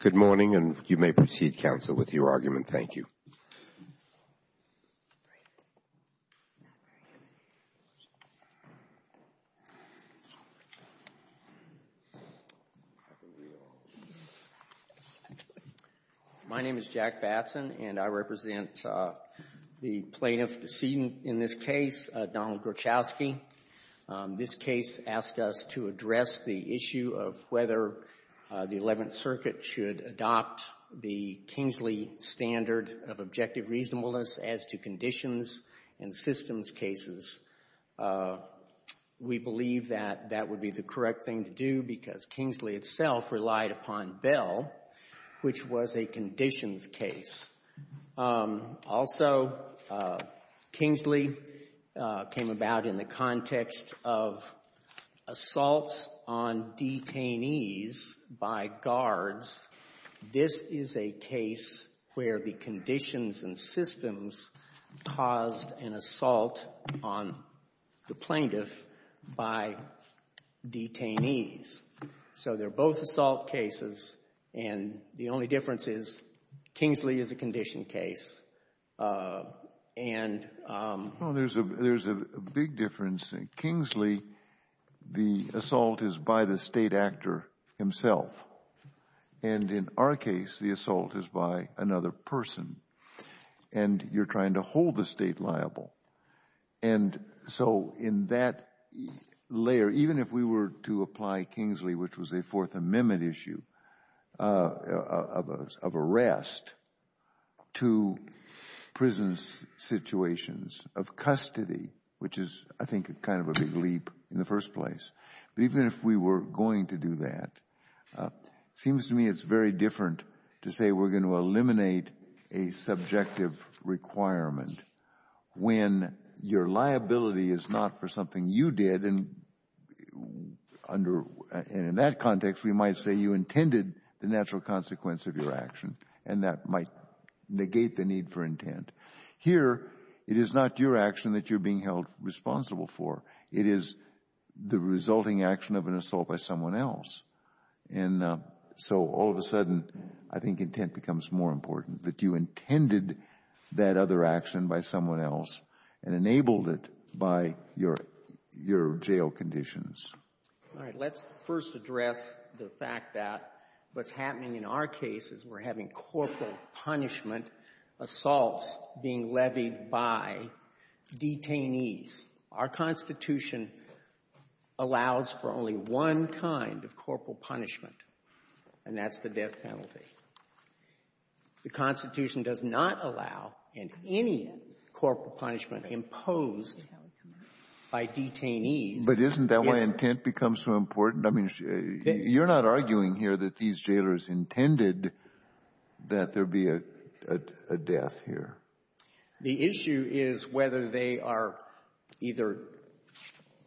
Good morning, and you may proceed, Counsel, with your argument. Thank you. My name is Jack Batson, and I represent the plaintiff seen in this case, Donald Grochowski. This case asked us to address the issue of whether the Eleventh Circuit should adopt the Kingsley standard of objective reasonableness as to conditions and systems cases. We believe that that would be the correct thing to do because Kingsley itself relied upon Bell, which was a conditions case. Also, Kingsley came about in the context of assaults on detainees by guards. This is a case where the conditions and systems caused an assault on the plaintiff by detainees. So they're both assault cases, and the only difference is Kingsley is a condition case. There's a big difference. In Kingsley, the assault is by the State actor himself, and in our case, the assault is by another person, and you're trying to hold the State liable. So in that layer, even if we were to apply Kingsley, which was a Fourth Amendment issue of arrest, to prison situations of custody, which is, I think, kind of a big leap in the first place, but even if we were going to do that, it seems to me it's very different to say we're going to eliminate a subjective requirement when your liability is not for something you did, and in that context, we might say you intended the natural consequence of your action, and that might negate the need for intent. Here, it is not your action that you're being held responsible for. It is the resulting action of an assault by someone else. And so all of a sudden, I think intent becomes more important, that you intended that other action by someone else and enabled it by your jail conditions. All right. Let's first address the fact that what's happening in our case is we're having corporal punishment assaults being levied by detainees. Our Constitution allows for only one kind of corporal punishment, and that's the death penalty. The Constitution does not allow in any corporal punishment imposed by detainees. But isn't that why intent becomes so important? I mean, you're not arguing here that these jailers intended that there be a death here. The issue is whether they are either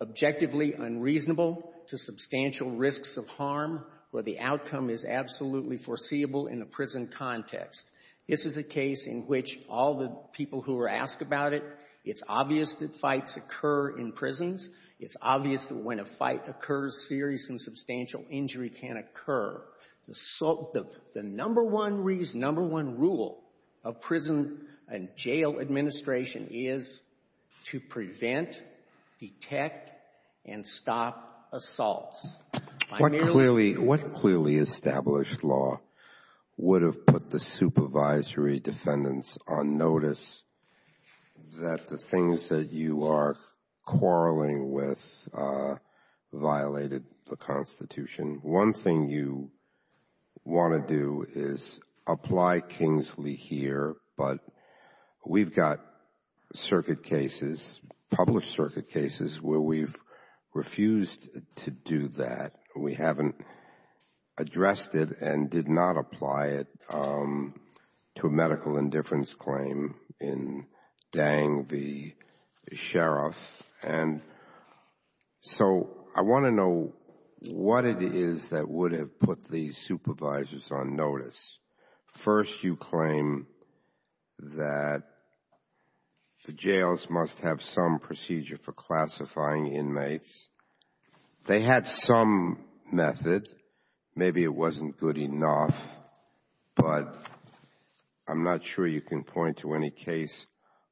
objectively unreasonable to substantial risks of harm or the outcome is absolutely foreseeable in a prison context. This is a case in which all the people who are asked about it, it's obvious that fights occur in prisons. It's obvious that when a fight occurs, serious and substantial injury can occur. The number one rule of prison and jail administration is to prevent, detect, and stop assaults. What clearly established law would have put the supervisory defendants on notice that the things that you are quarreling with violated the Constitution? One thing you want to do is apply Kingsley here, but we've got circuit cases, public circuit cases, where we've refused to do that. We haven't addressed it and did not apply it to a medical indifference claim in Dang v. Sheriff. And so I want to know what it is that would have put the supervisors on notice. First, you claim that the jails must have some procedure for classifying inmates. They had some method. Maybe it wasn't good enough, but I'm not sure you can point to any case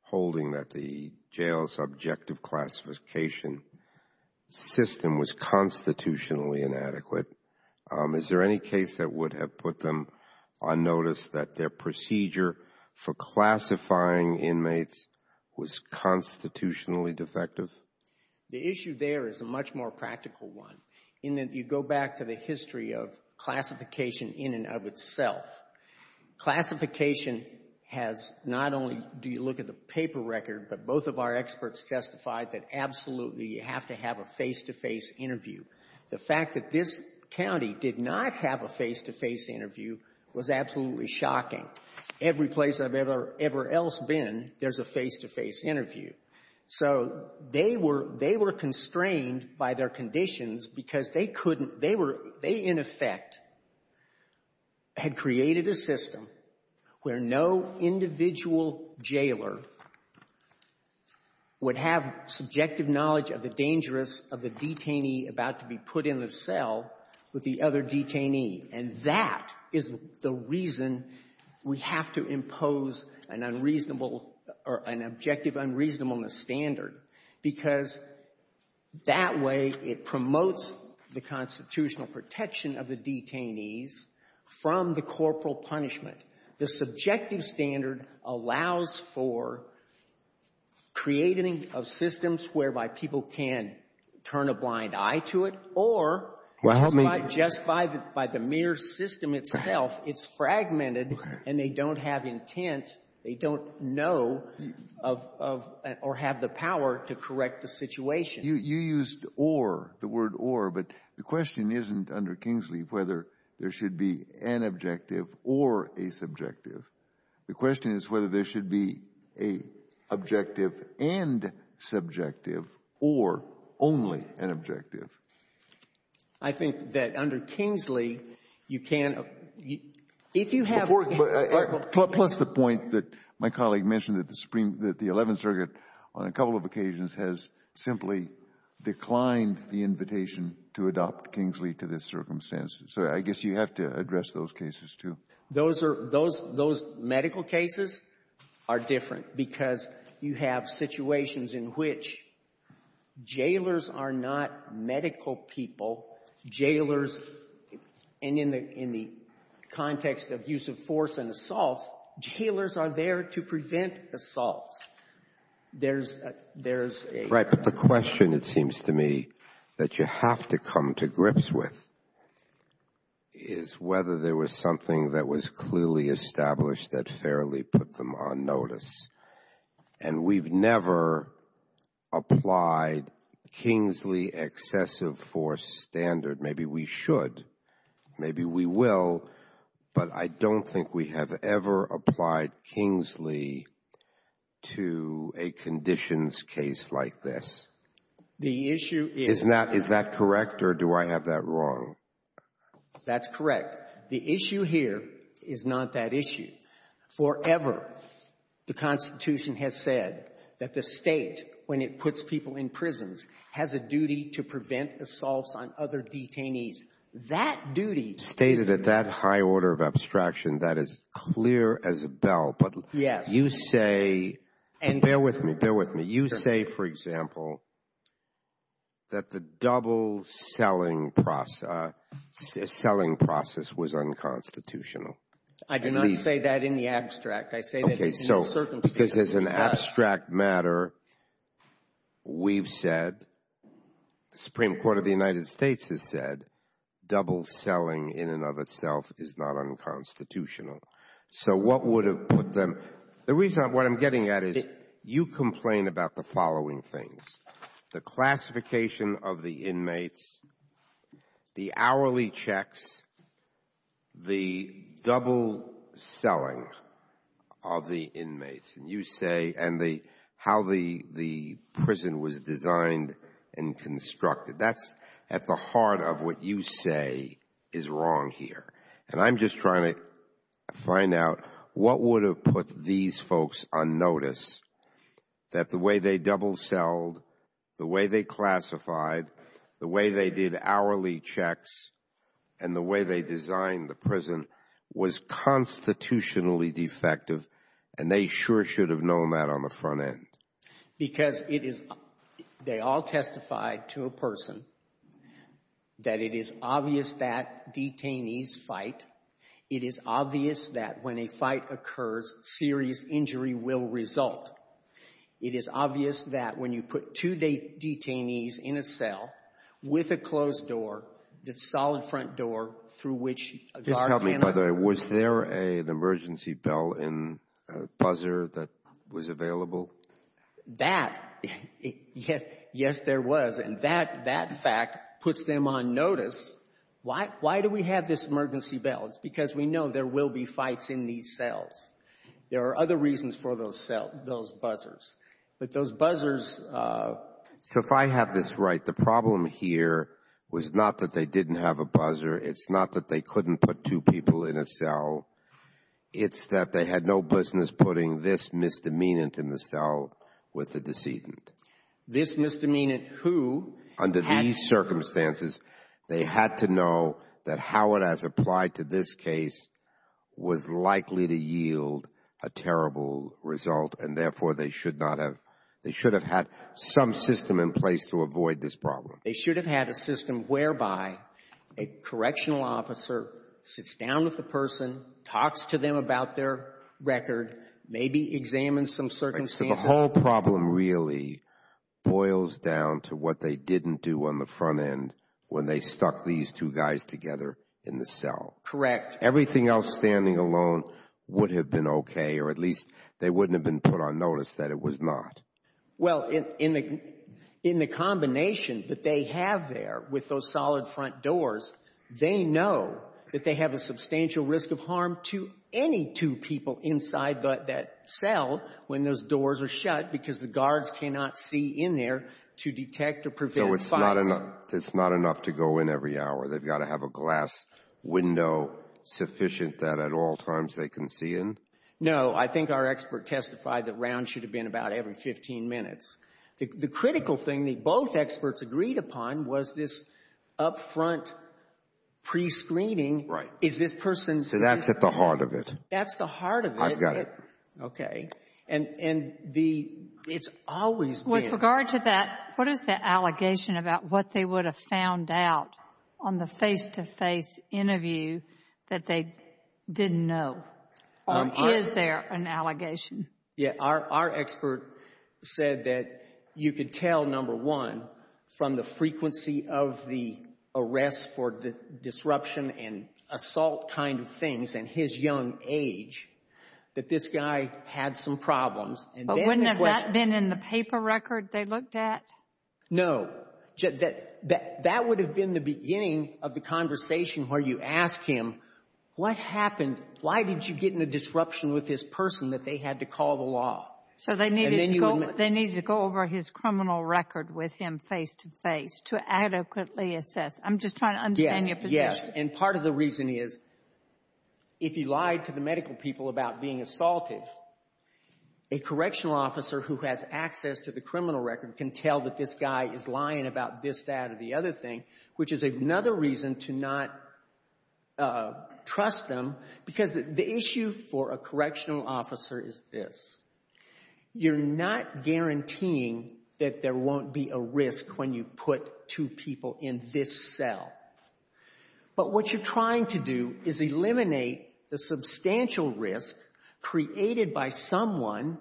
holding that the jail's objective classification system was constitutionally inadequate. Is there any case that would have put them on notice that their procedure for classifying inmates was constitutionally defective? The issue there is a much more practical one in that you go back to the history of classification in and of itself. Classification has not only do you look at the paper record, but both of our experts testified that absolutely you have to have a face-to-face interview. The fact that this county did not have a face-to-face interview was absolutely shocking. Every place I've ever else been, there's a face-to-face interview. So they were — they were constrained by their conditions because they couldn't — they were — they, in effect, had created a system where no individual jailer would have subjective knowledge of the dangers of the detainee about to be put in the cell with the other detainee. And that is the reason we have to impose an unreasonable or an objective unreasonableness standard, because that way it promotes the constitutional protection of the detainees from the corporal punishment. The subjective standard allows for creating of systems whereby people can turn a blind eye to it, or just by the mere system itself, it's fragmented and they don't have intent, they don't know of — or have the power to correct the situation. You used or, the word or, but the question isn't under Kingsleaf whether there should be an objective or a subjective. The question is whether there should be an objective and subjective or only an objective. I think that under Kingsleaf, you can't — if you have — Plus the point that my colleague mentioned that the Supreme — that the Eleventh Circuit on a couple of occasions has simply declined the invitation to adopt Kingsleaf to this circumstance. So I guess you have to address those cases, too. Those are — those medical cases are different, because you have situations in which jailers are not medical people. Jailers — and in the context of use of force and assaults, jailers are there to prevent assaults. There's a — that was clearly established that fairly put them on notice. And we've never applied Kingsley excessive force standard. Maybe we should. Maybe we will. But I don't think we have ever applied Kingsley to a conditions case like this. The issue is — Is that correct, or do I have that wrong? That's correct. The issue here is not that issue. Forever, the Constitution has said that the State, when it puts people in prisons, has a duty to prevent assaults on other detainees. That duty — Stated at that high order of abstraction, that is clear as a bell. Yes. But you say — And — Bear with me. Bear with me. Sure. You say, for example, that the double-selling process was unconstitutional. I do not say that in the abstract. I say that in the circumstances. Okay. So, because as an abstract matter, we've said, the Supreme Court of the United States has said, double-selling in and of itself is not unconstitutional. So what would have put them — The reason — what I'm getting at is, you complain about the following things. The classification of the inmates, the hourly checks, the double-selling of the inmates, and you say — and the — how the prison was designed and constructed. That's at the heart of what you say is wrong here. And I'm just trying to find out what would have put these folks on notice, that the way they double-selled, the way they classified, the way they did hourly checks, and the way they designed the prison was constitutionally defective, and they sure should have known that on the front end. Because it is — they all testified to a person that it is obvious that detainees fight. It is obvious that when a fight occurs, serious injury will result. It is obvious that when you put two detainees in a cell with a closed door, the solid front door through which a guard cannot — that — yes, there was. And that fact puts them on notice. Why do we have this emergency bell? It's because we know there will be fights in these cells. There are other reasons for those cell — those buzzers. But those buzzers — So if I have this right, the problem here was not that they didn't have a buzzer. It's not that they couldn't put two people in a cell. It's that they had no business putting this misdemeanant in the cell with the decedent. This misdemeanant who had — Under these circumstances, they had to know that how it has applied to this case was likely to yield a terrible result, and therefore, they should not have — they should have had some system in place to avoid this problem. They should have had a system whereby a correctional officer sits down with the person, talks to them about their record, maybe examines some circumstances. Right. So the whole problem really boils down to what they didn't do on the front end when they stuck these two guys together in the cell. Correct. Everything else standing alone would have been okay, or at least they wouldn't have been put on notice that it was not. Well, in the combination that they have there with those solid front doors, they know that they have a substantial risk of harm to any two people inside that cell when those doors are shut because the guards cannot see in there to detect or prevent fights. So it's not enough to go in every hour. They've got to have a glass window sufficient that at all times they can see in? No. I think our expert testified that rounds should have been about every 15 minutes. The critical thing that both experts agreed upon was this up-front prescreening. Right. Is this person — So that's at the heart of it. That's the heart of it. I've got it. Okay. And the — it's always been — With regard to that, what is the allegation about what they would have found out on the face-to-face interview that they didn't know? Or is there an allegation? Yeah. Our expert said that you could tell, number one, from the frequency of the arrests for disruption and assault kind of things and his young age, that this guy had some problems. But wouldn't that have been in the paper record they looked at? No. That would have been the beginning of the conversation where you ask him, what happened? Why did you get in a disruption with this person that they had to call the law? So they needed to go — And then you would — They needed to go over his criminal record with him face-to-face to adequately assess. I'm just trying to understand your position. Yes. Yes. And part of the reason is, if he lied to the medical people about being assaulted, a correctional officer who has access to the criminal record can tell that this guy is lying about this, that, or the other thing, which is another reason to not trust them. Because the issue for a correctional officer is this. You're not guaranteeing that there won't be a risk when you put two people in this cell. But what you're trying to do is eliminate the substantial risk created by someone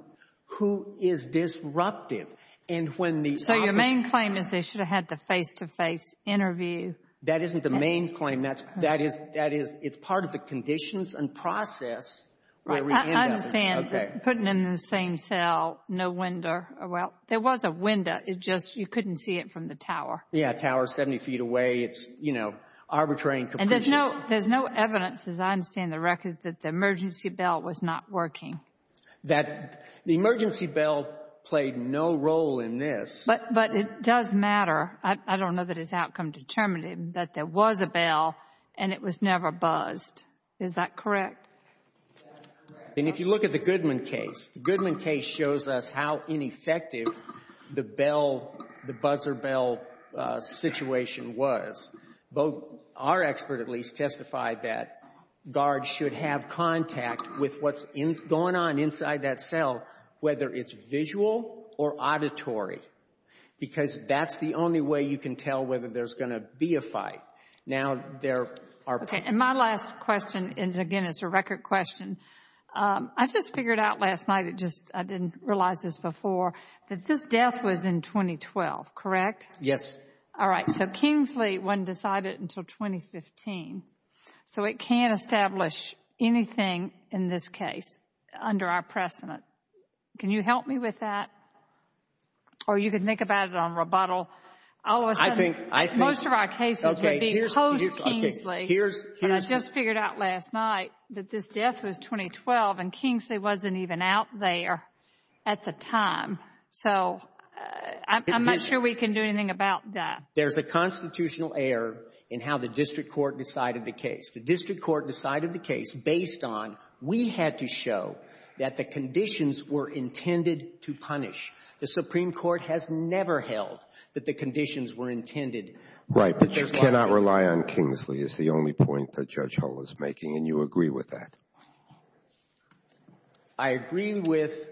who is disruptive. And when the officer — So your main claim is they should have had the face-to-face interview. That isn't the main claim. That's — that is — that is — it's part of the conditions and process where we end up. Right. I understand. Okay. Putting them in the same cell, no window. Well, there was a window. It just — you couldn't see it from the tower. Yeah. Tower is 70 feet away. It's, you know, arbitrary and capricious. And there's no — there's no evidence, as I understand the record, that the emergency bell was not working. That the emergency bell played no role in this. But it does matter. I don't know that it's outcome-determinative that there was a bell and it was never buzzed. Is that correct? That's correct. And if you look at the Goodman case, the Goodman case shows us how ineffective the bell — the buzzer bell situation was. Both — our expert, at least, testified that guards should have contact with what's going on inside that cell, whether it's visual or auditory. Because that's the only way you can tell whether there's going to be a fight. Now, there are — Okay. And my last question is, again, it's a record question. I just figured out last night, it just — I didn't realize this before, that this death was in 2012, correct? Yes. All right. So Kingsley wasn't decided until 2015. So it can't establish anything in this case under our precedent. Can you help me with that? Or you can think about it on rebuttal. I think — Most of our cases would be post-Kingsley. But I just figured out last night that this death was 2012, and Kingsley wasn't even out there at the time. So I'm not sure we can do anything about that. There's a constitutional error in how the district court decided the case. The district court decided the case based on we had to show that the conditions were intended to punish. The Supreme Court has never held that the conditions were intended. Right. But you cannot rely on Kingsley is the only point that Judge Hull is making. And you agree with that? I agree with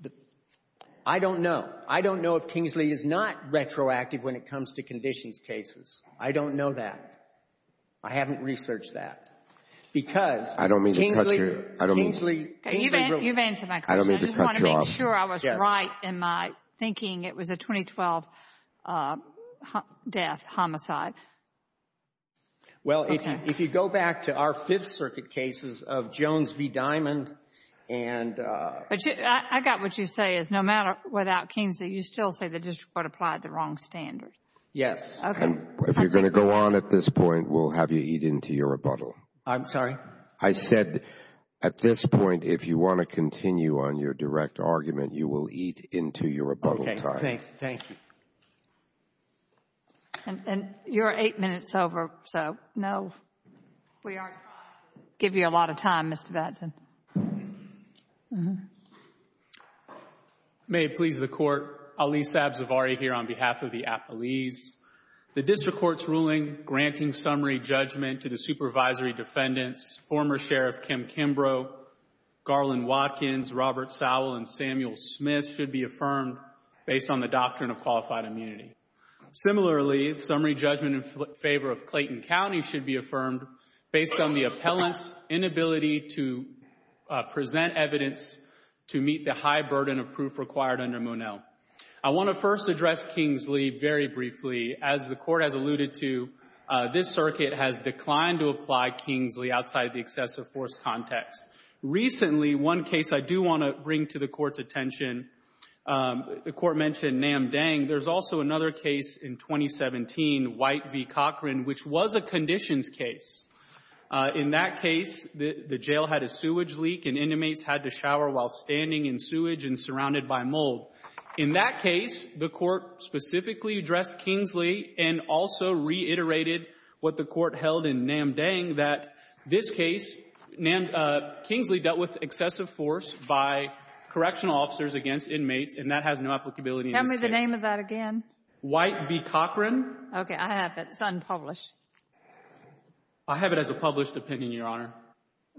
the — I don't know. I don't know if Kingsley is not retroactive when it comes to conditions cases. I don't know that. I haven't researched that. Because — I don't mean to cut you. Kingsley — You've answered my question. I don't mean to cut you off. I just want to make sure I was right in my thinking it was a 2012 death, homicide. Well, if you go back to our Fifth Circuit cases of Jones v. Diamond and — I got what you say is no matter without Kingsley, you still say the district court applied the wrong standard. Yes. Okay. If you're going to go on at this point, we'll have you eat into your rebuttal. I'm sorry? I said at this point, if you want to continue on your direct argument, you will eat into your rebuttal time. Okay. Thank you. And you're eight minutes over, so no. We are trying to give you a lot of time, Mr. Batson. May it please the Court. Ali Sabzavari here on behalf of the Appalese. The district court's ruling granting summary judgment to the supervisory defendants, former Sheriff Kim Kimbrough, Garland Watkins, Robert Sowell, and Samuel Smith, should be affirmed based on the doctrine of qualified immunity. Similarly, summary judgment in favor of Clayton County should be affirmed based on the appellant's inability to present evidence to meet the high burden of proof required under Monell. I want to first address Kingsley very briefly. As the Court has alluded to, this circuit has declined to apply Kingsley outside the excessive force context. Recently, one case I do want to bring to the Court's attention, the Court mentioned Nam Dang. There's also another case in 2017, White v. Cochran, which was a conditions case. In that case, the jail had a sewage leak and inmates had to shower while standing in sewage and surrounded by mold. In that case, the Court specifically addressed Kingsley and also reiterated what the Court held in Nam Dang, that this case, Kingsley dealt with excessive force by correctional officers against inmates, and that has no applicability in this case. Tell me the name of that again. White v. Cochran. Okay. I have it. It's unpublished. I have it as a published opinion, Your Honor.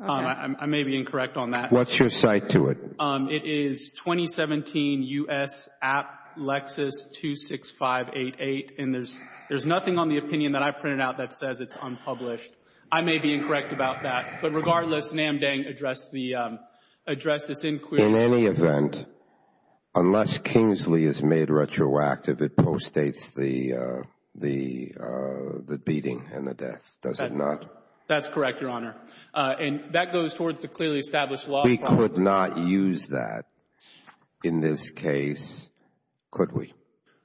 I may be incorrect on that. What's your cite to it? It is 2017 U.S. App Lexus 26588, and there's nothing on the opinion that I printed out that says it's unpublished. I may be incorrect about that. But regardless, Nam Dang addressed this inquiry. In any event, unless Kingsley is made retroactive, it postdates the beating and the death, does it not? That's correct, Your Honor. And that goes towards the clearly established law. We could not use that in this case, could we?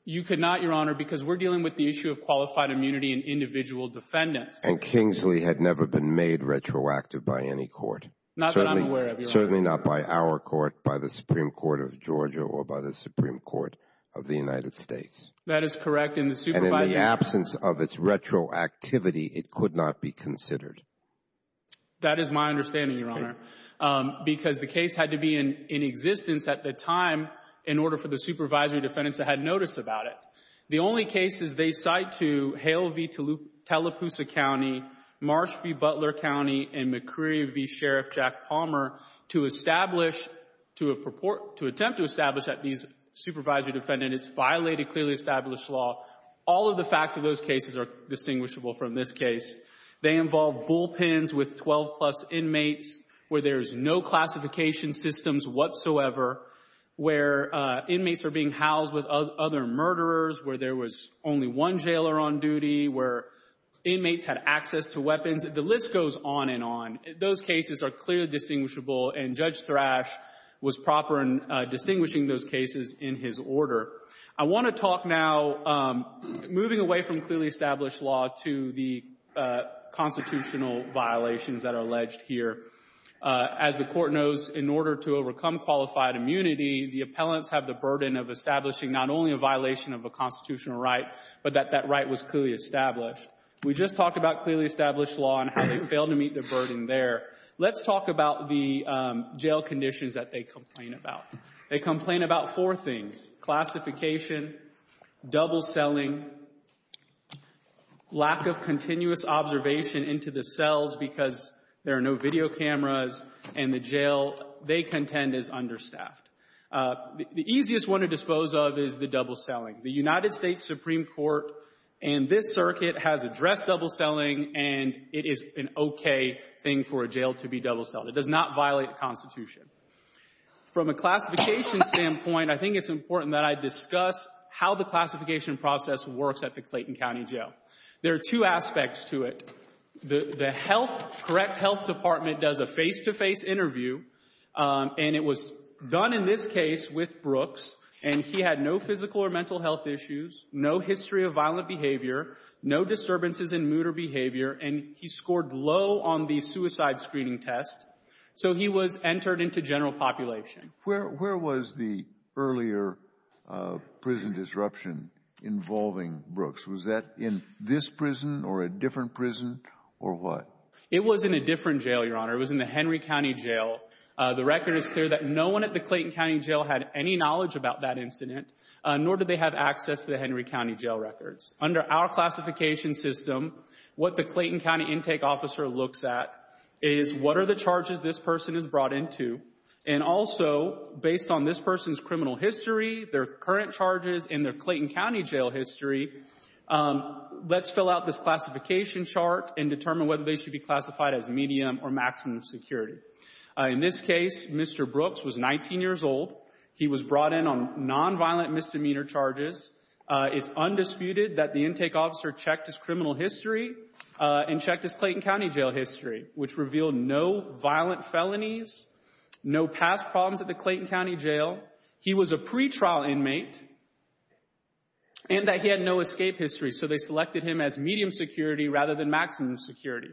You could not, Your Honor, because we're dealing with the issue of qualified immunity and individual defendants. And Kingsley had never been made retroactive by any court. Not that I'm aware of, Your Honor. Certainly not by our court, by the Supreme Court of Georgia, or by the Supreme Court of the United States. That is correct. And in the absence of its retroactivity, it could not be considered. That is my understanding, Your Honor, because the case had to be in existence at the time in order for the supervisory defendants to have notice about it. The only cases they cite to Hale v. Tallapoosa County, Marsh v. Butler County, and McCreery v. Sheriff Jack Palmer to establish, to attempt to establish that these supervisory defendants violated clearly established law, all of the facts of those cases are distinguishable from this case. They involve bullpens with 12-plus inmates where there's no classification systems whatsoever, where inmates are being housed with other murderers, where there was only one jailer on duty, where inmates had access to weapons. The list goes on and on. Those cases are clearly distinguishable, and Judge Thrash was proper in distinguishing those cases in his order. I want to talk now, moving away from clearly established law, to the constitutional violations that are alleged here. As the Court knows, in order to overcome qualified immunity, the appellants have the burden of establishing not only a violation of a constitutional right, but that that right was clearly established. We just talked about clearly established law and how they failed to meet their burden there. Let's talk about the jail conditions that they complain about. They complain about four things, classification, double selling, lack of continuous observation into the cells because there are no video cameras, and the jail they contend is understaffed. The easiest one to dispose of is the double selling. The United States Supreme Court and this circuit has addressed double selling, and it is an okay thing for a jail to be double sold. It does not violate the Constitution. From a classification standpoint, I think it's important that I discuss how the classification process works at the Clayton County Jail. There are two aspects to it. The correct health department does a face-to-face interview, and it was done in this case with Brooks, and he had no physical or mental health issues, no history of violent behavior, no disturbances in mood or behavior, and he scored low on the suicide screening test. So he was entered into general population. Where was the earlier prison disruption involving Brooks? Was that in this prison or a different prison or what? It was in a different jail, Your Honor. It was in the Henry County Jail. The record is clear that no one at the Clayton County Jail had any knowledge about that incident, nor did they have access to the Henry County Jail records. Under our classification system, what the Clayton County intake officer looks at is what are the charges this person is brought into, and also, based on this person's criminal history, their current charges, and their Clayton County Jail history, let's fill out this classification chart and determine whether they should be classified as medium or maximum security. In this case, Mr. Brooks was 19 years old. He was brought in on nonviolent misdemeanor charges. It's undisputed that the intake officer checked his criminal history and checked his Clayton County Jail history, which revealed no violent felonies, no past problems at the Clayton County Jail. He was a pretrial inmate and that he had no escape history, so they selected him as medium security rather than maximum security.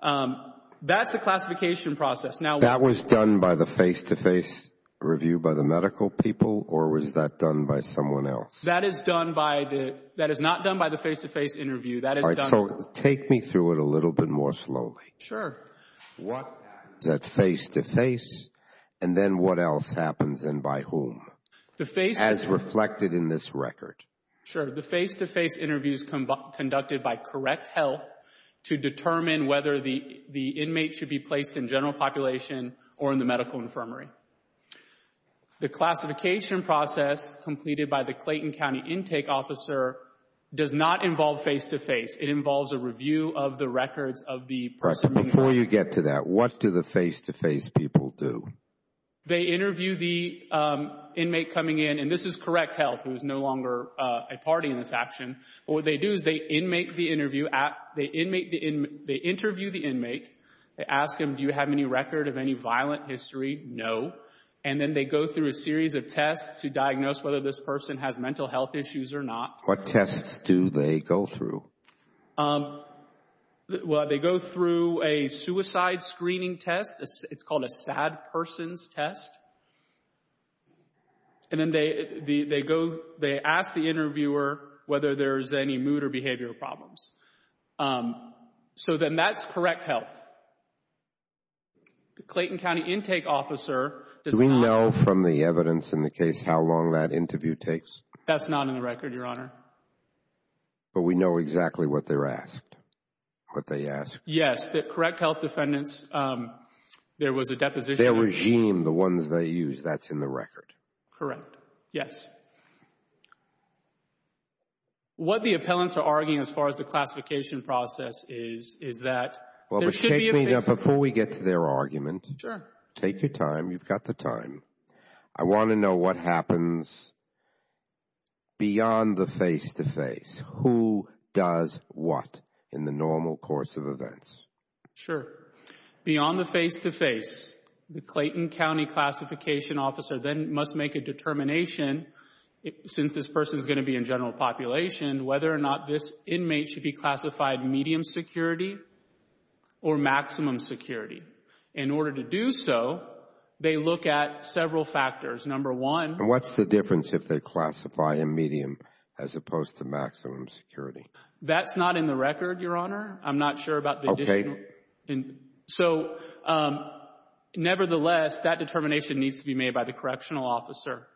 That's the classification process. That was done by the face-to-face review by the medical people, or was that done by someone else? That is not done by the face-to-face interview. All right, so take me through it a little bit more slowly. Sure. What is that face-to-face, and then what else happens, and by whom, as reflected in this record? Sure. The face-to-face interview is conducted by correct health to determine whether the inmate should be placed in general population or in the medical infirmary. The classification process completed by the Clayton County intake officer does not involve face-to-face. It involves a review of the records of the person. Before you get to that, what do the face-to-face people do? They interview the inmate coming in, and this is correct health. It was no longer a party in this action. What they do is they interview the inmate. They ask him, do you have any record of any violent history? No. And then they go through a series of tests to diagnose whether this person has mental health issues or not. What tests do they go through? Well, they go through a suicide screening test. It's called a sad person's test. And then they ask the interviewer whether there's any mood or behavioral problems. So then that's correct health. The Clayton County intake officer does not. Do we know from the evidence in the case how long that interview takes? That's not in the record, Your Honor. But we know exactly what they're asked, what they asked. Yes, the correct health defendants, there was a deposition. Their regime, the ones they use, that's in the record. Correct, yes. What the appellants are arguing as far as the classification process is, is that there should be a face-to-face. Before we get to their argument, take your time. You've got the time. I want to know what happens beyond the face-to-face. Who does what in the normal course of events? Sure. Beyond the face-to-face, the Clayton County classification officer then must make a determination, since this person is going to be in general population, whether or not this inmate should be classified medium security or maximum security. In order to do so, they look at several factors. Number one. What's the difference if they classify a medium as opposed to maximum security? That's not in the record, Your Honor. I'm not sure about the additional. Okay. So, nevertheless, that determination needs to be made by the correctional officer.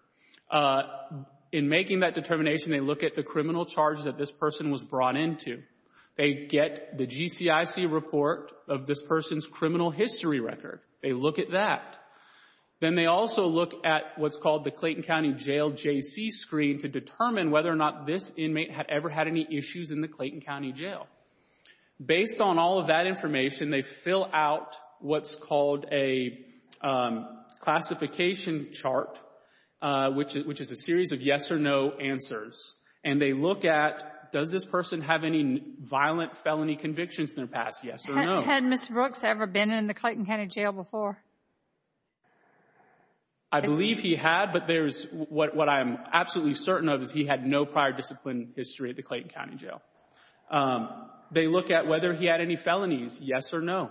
In making that determination, they look at the criminal charges that this person was brought into. They get the GCIC report of this person's criminal history record. They look at that. Then they also look at what's called the Clayton County Jail JC screen to determine whether or not this inmate had ever had any issues in the Clayton County Jail. Based on all of that information, they fill out what's called a classification chart, which is a series of yes or no answers. And they look at, does this person have any violent felony convictions in their past? Yes or no? Had Mr. Brooks ever been in the Clayton County Jail before? I believe he had, but what I'm absolutely certain of is he had no prior discipline history at the Clayton County Jail. They look at whether he had any felonies. Yes or no?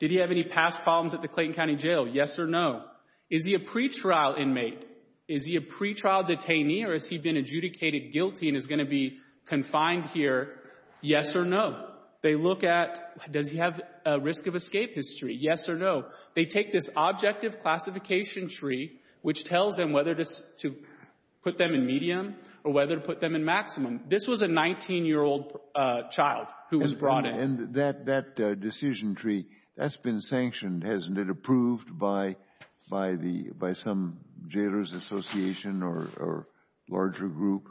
Did he have any past problems at the Clayton County Jail? Yes or no? Is he a pretrial inmate? Is he a pretrial detainee, or has he been adjudicated guilty and is going to be confined here? Yes or no? They look at, does he have a risk of escape history? Yes or no? They take this objective classification tree, which tells them whether to put them in medium or whether to put them in maximum. This was a 19-year-old child who was brought in. And that decision tree, that's been sanctioned, hasn't it? Approved by some jailor's association or larger group?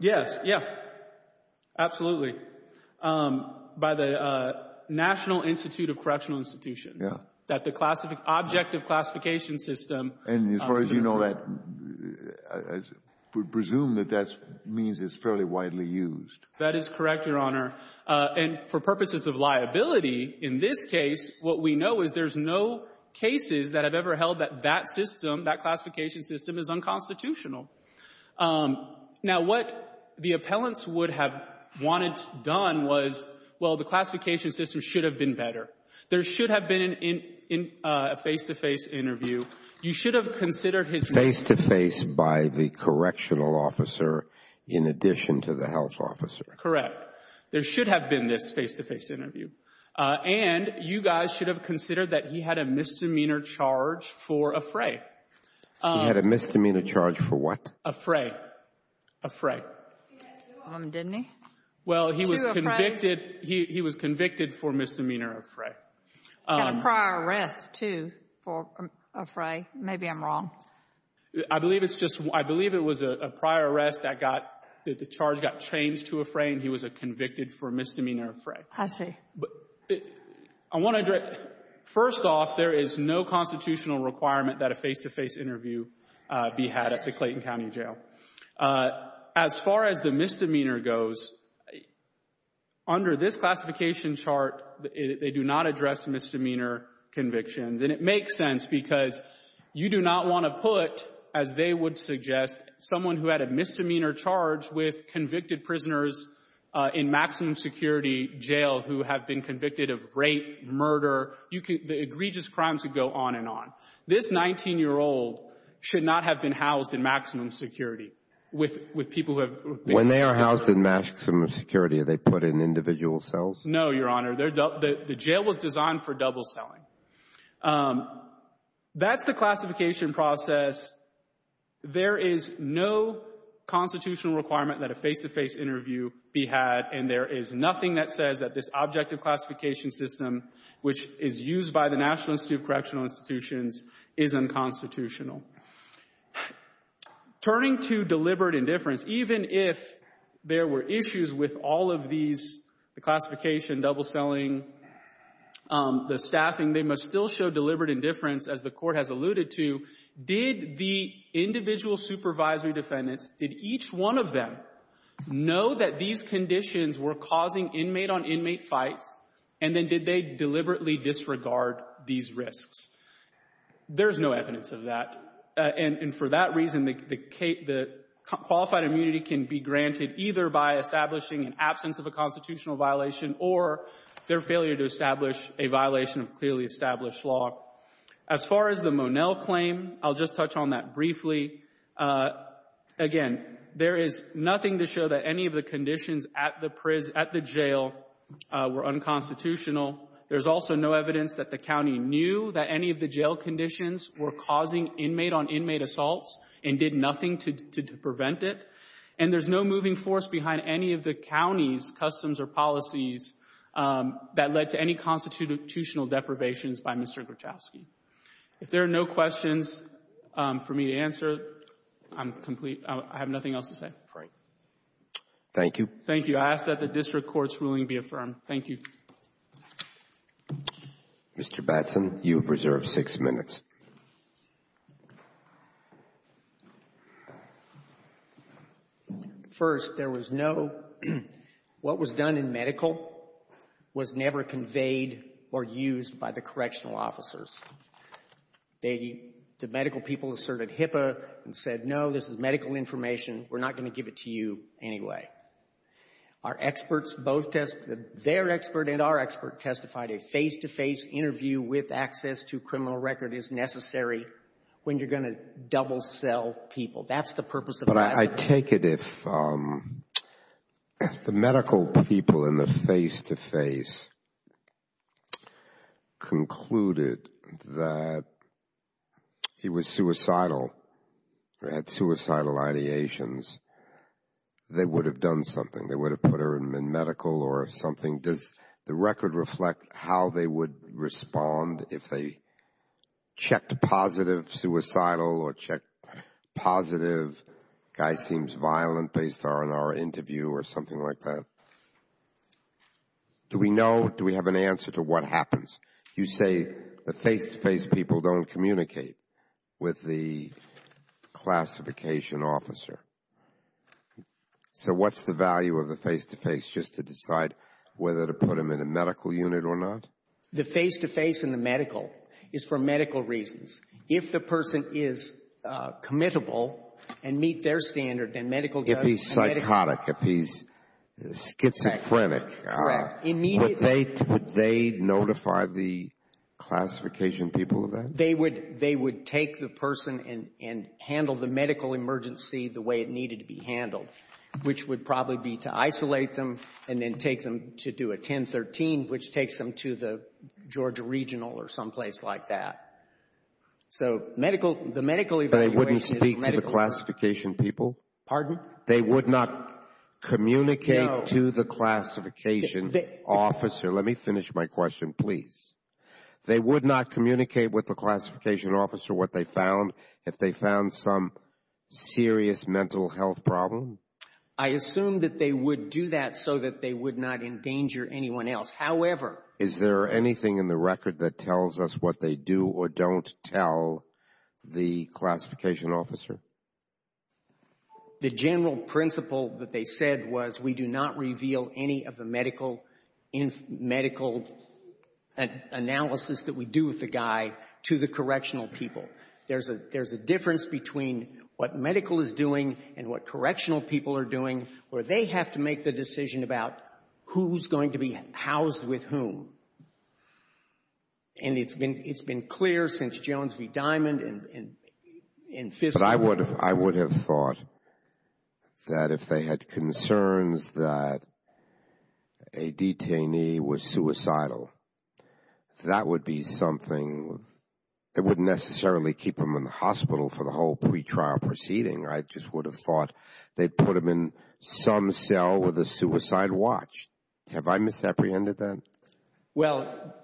Yes. Yeah, absolutely. By the National Institute of Correctional Institutions. Yeah. That the objective classification system. And as far as you know, I presume that that means it's fairly widely used. That is correct, Your Honor. And for purposes of liability, in this case, what we know is there's no cases that have ever held that that system, that classification system, is unconstitutional. Now, what the appellants would have wanted done was, well, the classification system should have been better. There should have been a face-to-face interview. You should have considered his case. Face-to-face by the correctional officer in addition to the health officer. Correct. There should have been this face-to-face interview. And you guys should have considered that he had a misdemeanor charge for a fray. He had a misdemeanor charge for what? A fray. A fray. He had two of them, didn't he? Well, he was convicted for misdemeanor of fray. And a prior arrest, too, for a fray. Maybe I'm wrong. I believe it's just one. I believe it was a prior arrest that got, that the charge got changed to a fray, and he was convicted for misdemeanor of fray. I see. I want to address, first off, there is no constitutional requirement that a face-to-face interview be had at the Clayton County Jail. As far as the misdemeanor goes, under this classification chart, they do not address misdemeanor convictions. And it makes sense because you do not want to put, as they would suggest, someone who had a misdemeanor charge with convicted prisoners in maximum security jail who have been convicted of rape, murder, the egregious crimes that go on and on. This 19-year-old should not have been housed in maximum security with people who have been convicted. When they are housed in maximum security, are they put in individual cells? No, Your Honor. The jail was designed for double-selling. That's the classification process. There is no constitutional requirement that a face-to-face interview be had, and there is nothing that says that this objective classification system, which is used by the National Institute of Correctional Institutions, is unconstitutional. Turning to deliberate indifference, even if there were issues with all of these, the classification, double-selling, the staffing, they must still show deliberate indifference, as the Court has alluded to. Did the individual supervisory defendants, did each one of them know that these conditions were causing inmate-on-inmate fights, and then did they deliberately disregard these risks? There's no evidence of that. And for that reason, the qualified immunity can be granted either by establishing an absence of a constitutional violation or their failure to establish a violation of clearly established law. As far as the Monell claim, I'll just touch on that briefly. Again, there is nothing to show that any of the conditions at the jail were unconstitutional. There's also no evidence that the county knew that any of the jail conditions were causing inmate-on-inmate assaults and did nothing to prevent it. And there's no moving force behind any of the county's customs or policies that led to any constitutional deprivations by Mr. Gruchowski. If there are no questions for me to answer, I'm complete. I have nothing else to say. All right. Thank you. Thank you. I ask that the district court's ruling be affirmed. Thank you. Mr. Batson, you have reserved six minutes. First, there was no — what was done in medical was never conveyed or used by the correctional officers. The medical people asserted HIPAA and said, no, this is medical information. We're not going to give it to you anyway. Our experts both testified — their expert and our expert testified a face-to-face interview with access to criminal record is necessary when you're going to double-sell people. That's the purpose of the lawsuit. But I take it if the medical people in the face-to-face concluded that he was suicidal, had suicidal ideations, they would have done something. They would have put him in medical or something. Does the record reflect how they would respond if they checked positive, suicidal, or checked positive, guy seems violent based on our interview or something like that? Do we know? Do we have an answer to what happens? You say the face-to-face people don't communicate with the classification officer. So what's the value of the face-to-face just to decide whether to put him in a medical unit or not? The face-to-face in the medical is for medical reasons. If the person is committable and meet their standard, then medical does the medical. If he's psychotic, if he's schizophrenic. Correct. Would they notify the classification people of that? They would take the person and handle the medical emergency the way it needed to be handled, which would probably be to isolate them and then take them to do a 1013, which takes them to the Georgia Regional or someplace like that. So the medical evaluation is medical. They wouldn't speak to the classification people? Pardon? They would not communicate to the classification? The classification officer. Let me finish my question, please. They would not communicate with the classification officer what they found if they found some serious mental health problem? I assume that they would do that so that they would not endanger anyone else. However. Is there anything in the record that tells us what they do or don't tell the classification officer? The general principle that they said was we do not reveal any of the medical analysis that we do with the guy to the correctional people. There's a difference between what medical is doing and what correctional people are doing where they have to make the decision about who's going to be housed with whom. And it's been clear since Jones v. Diamond and Fisher. But I would have thought that if they had concerns that a detainee was suicidal, that would be something that wouldn't necessarily keep them in the hospital for the whole pretrial proceeding. I just would have thought they'd put them in some cell with a suicide watch. Have I misapprehended that? Well,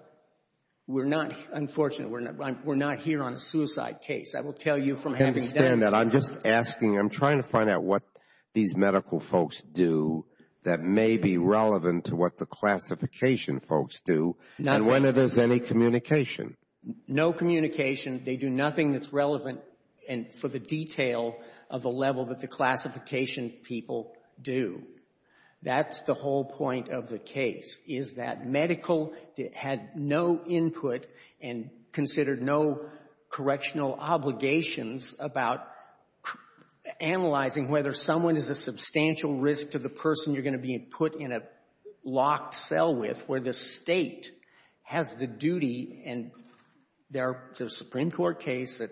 we're not, unfortunately, we're not here on a suicide case. I will tell you from having done it. I understand that. I'm just asking. I'm trying to find out what these medical folks do that may be relevant to what the classification folks do and whether there's any communication. No communication. They do nothing that's relevant for the detail of the level that the classification people do. That's the whole point of the case, is that medical had no input and considered no correctional obligations about analyzing whether someone is a substantial risk to the person you're going to be put in a locked cell with where the State has the duty and there's a Supreme Court case that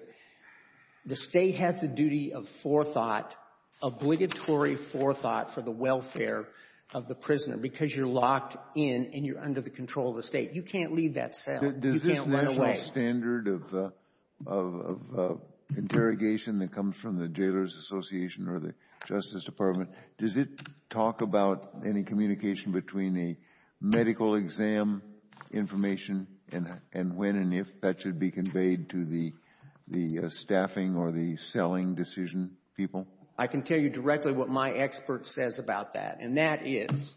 the State has a duty of forethought, obligatory forethought, for the welfare of the prisoner because you're locked in and you're under the control of the State. You can't leave that cell. You can't run away. That's the whole standard of interrogation that comes from the Jailors Association or the Justice Department. Does it talk about any communication between a medical exam information and when and if that should be conveyed to the staffing or the selling decision people? I can tell you directly what my expert says about that, and that is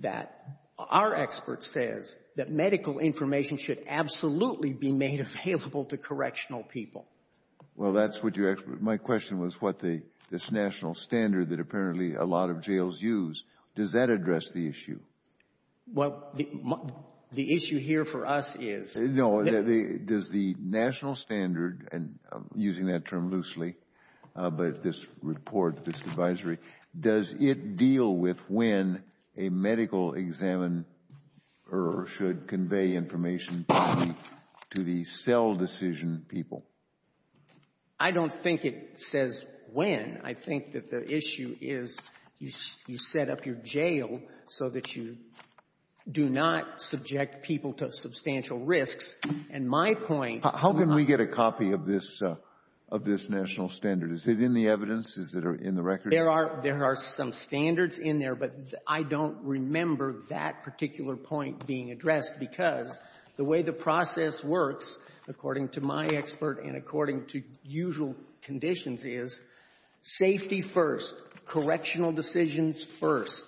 that our medical information should absolutely be made available to correctional people. Well, that's what your expert — my question was what the — this national standard that apparently a lot of jails use, does that address the issue? Well, the issue here for us is — No. Does the national standard, and I'm using that term loosely, but this report, this advisory, does it deal with when a medical examiner should convey information to the cell decision people? I don't think it says when. I think that the issue is you set up your jail so that you do not subject people to substantial risks. And my point — How can we get a copy of this — of this national standard? Is it in the evidence? Is it in the record? There are — there are some standards in there, but I don't remember that particular point being addressed because the way the process works, according to my expert and according to usual conditions, is safety first, correctional decisions first,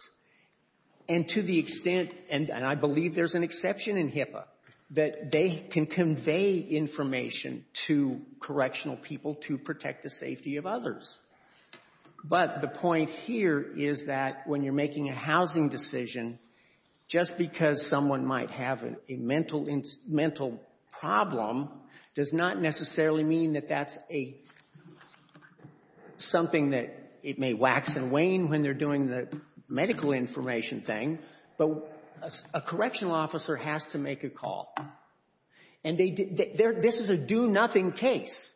and to the extent — and I believe there's an exception in HIPAA — that they can convey information to correctional people to protect the safety of others. But the point here is that when you're making a housing decision, just because someone might have a mental — mental problem does not necessarily mean that that's a — something that it may wax and wane when they're doing the medical information thing, but a correctional officer has to make a call. And they — this is a do-nothing case.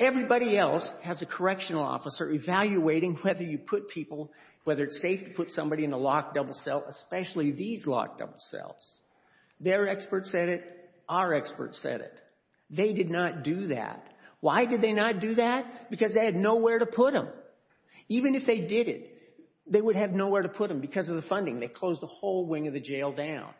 Everybody else has a correctional officer evaluating whether you put people — whether it's safe to put somebody in a locked double cell, especially these locked double cells. Their experts said it. Our experts said it. They did not do that. Why did they not do that? Because they had nowhere to put them. Even if they did it, they would have nowhere to put them because of the funding. They closed the whole wing of the jail down.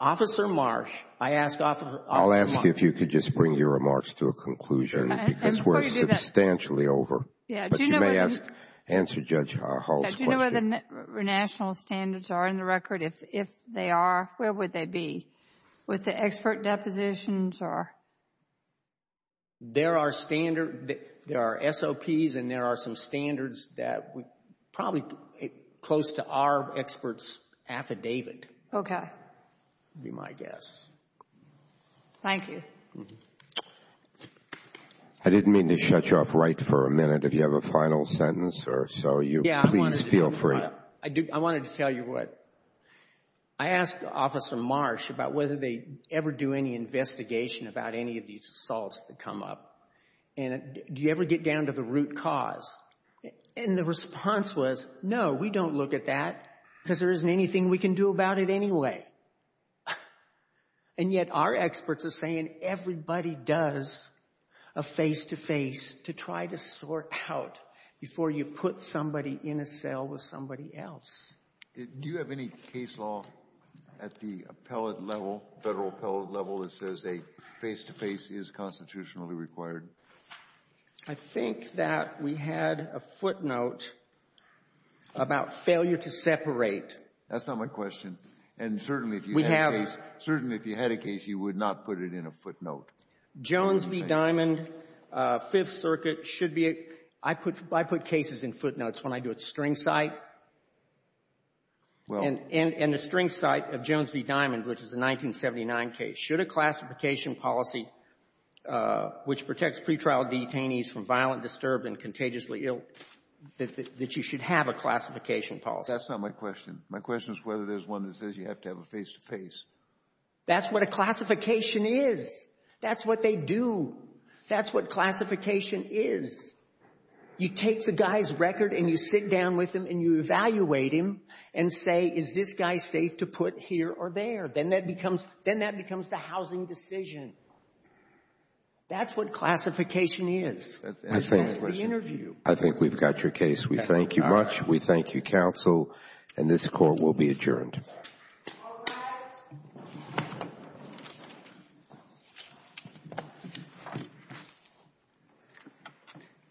Officer Marsh, I ask Officer Marsh. I'll ask if you could just bring your remarks to a conclusion because we're substantially over. But you may ask — answer Judge Hall's question. Do you know where the national standards are in the record? If they are, where would they be? With the expert depositions or? There are standard — there are SOPs and there are some standards that would probably close to our experts' affidavit. Okay. Would be my guess. Thank you. I didn't mean to shut you off right for a minute. If you have a final sentence or so, you — Yeah, I wanted to — Please feel free. I wanted to tell you what — I asked Officer Marsh about whether they ever do any investigation about any of these assaults that come up. And do you ever get down to the root cause? And the response was, no, we don't look at that because there isn't anything we can do about it anyway. And yet our experts are saying everybody does a face-to-face to try to sort out before you put somebody in a cell with somebody else. Do you have any case law at the appellate level, Federal appellate level, that says a face-to-face is constitutionally required? I think that we had a footnote about failure to separate. That's not my question. And certainly if you had a case, you would not put it in a footnote. Jones v. Diamond, Fifth Circuit, should be — I put cases in footnotes when I do it in the string site of Jones v. Diamond, which is a 1979 case. Should a classification policy, which protects pretrial detainees from violent, disturbed, and contagiously ill, that you should have a classification policy? That's not my question. My question is whether there's one that says you have to have a face-to-face. That's what a classification is. That's what they do. That's what classification is. You take the guy's record and you sit down with him and you evaluate him and say, is this guy safe to put here or there? Then that becomes the housing decision. That's what classification is. That's the interview. I think we've got your case. We thank you much. We thank you, counsel, and this Court will be adjourned. Now what?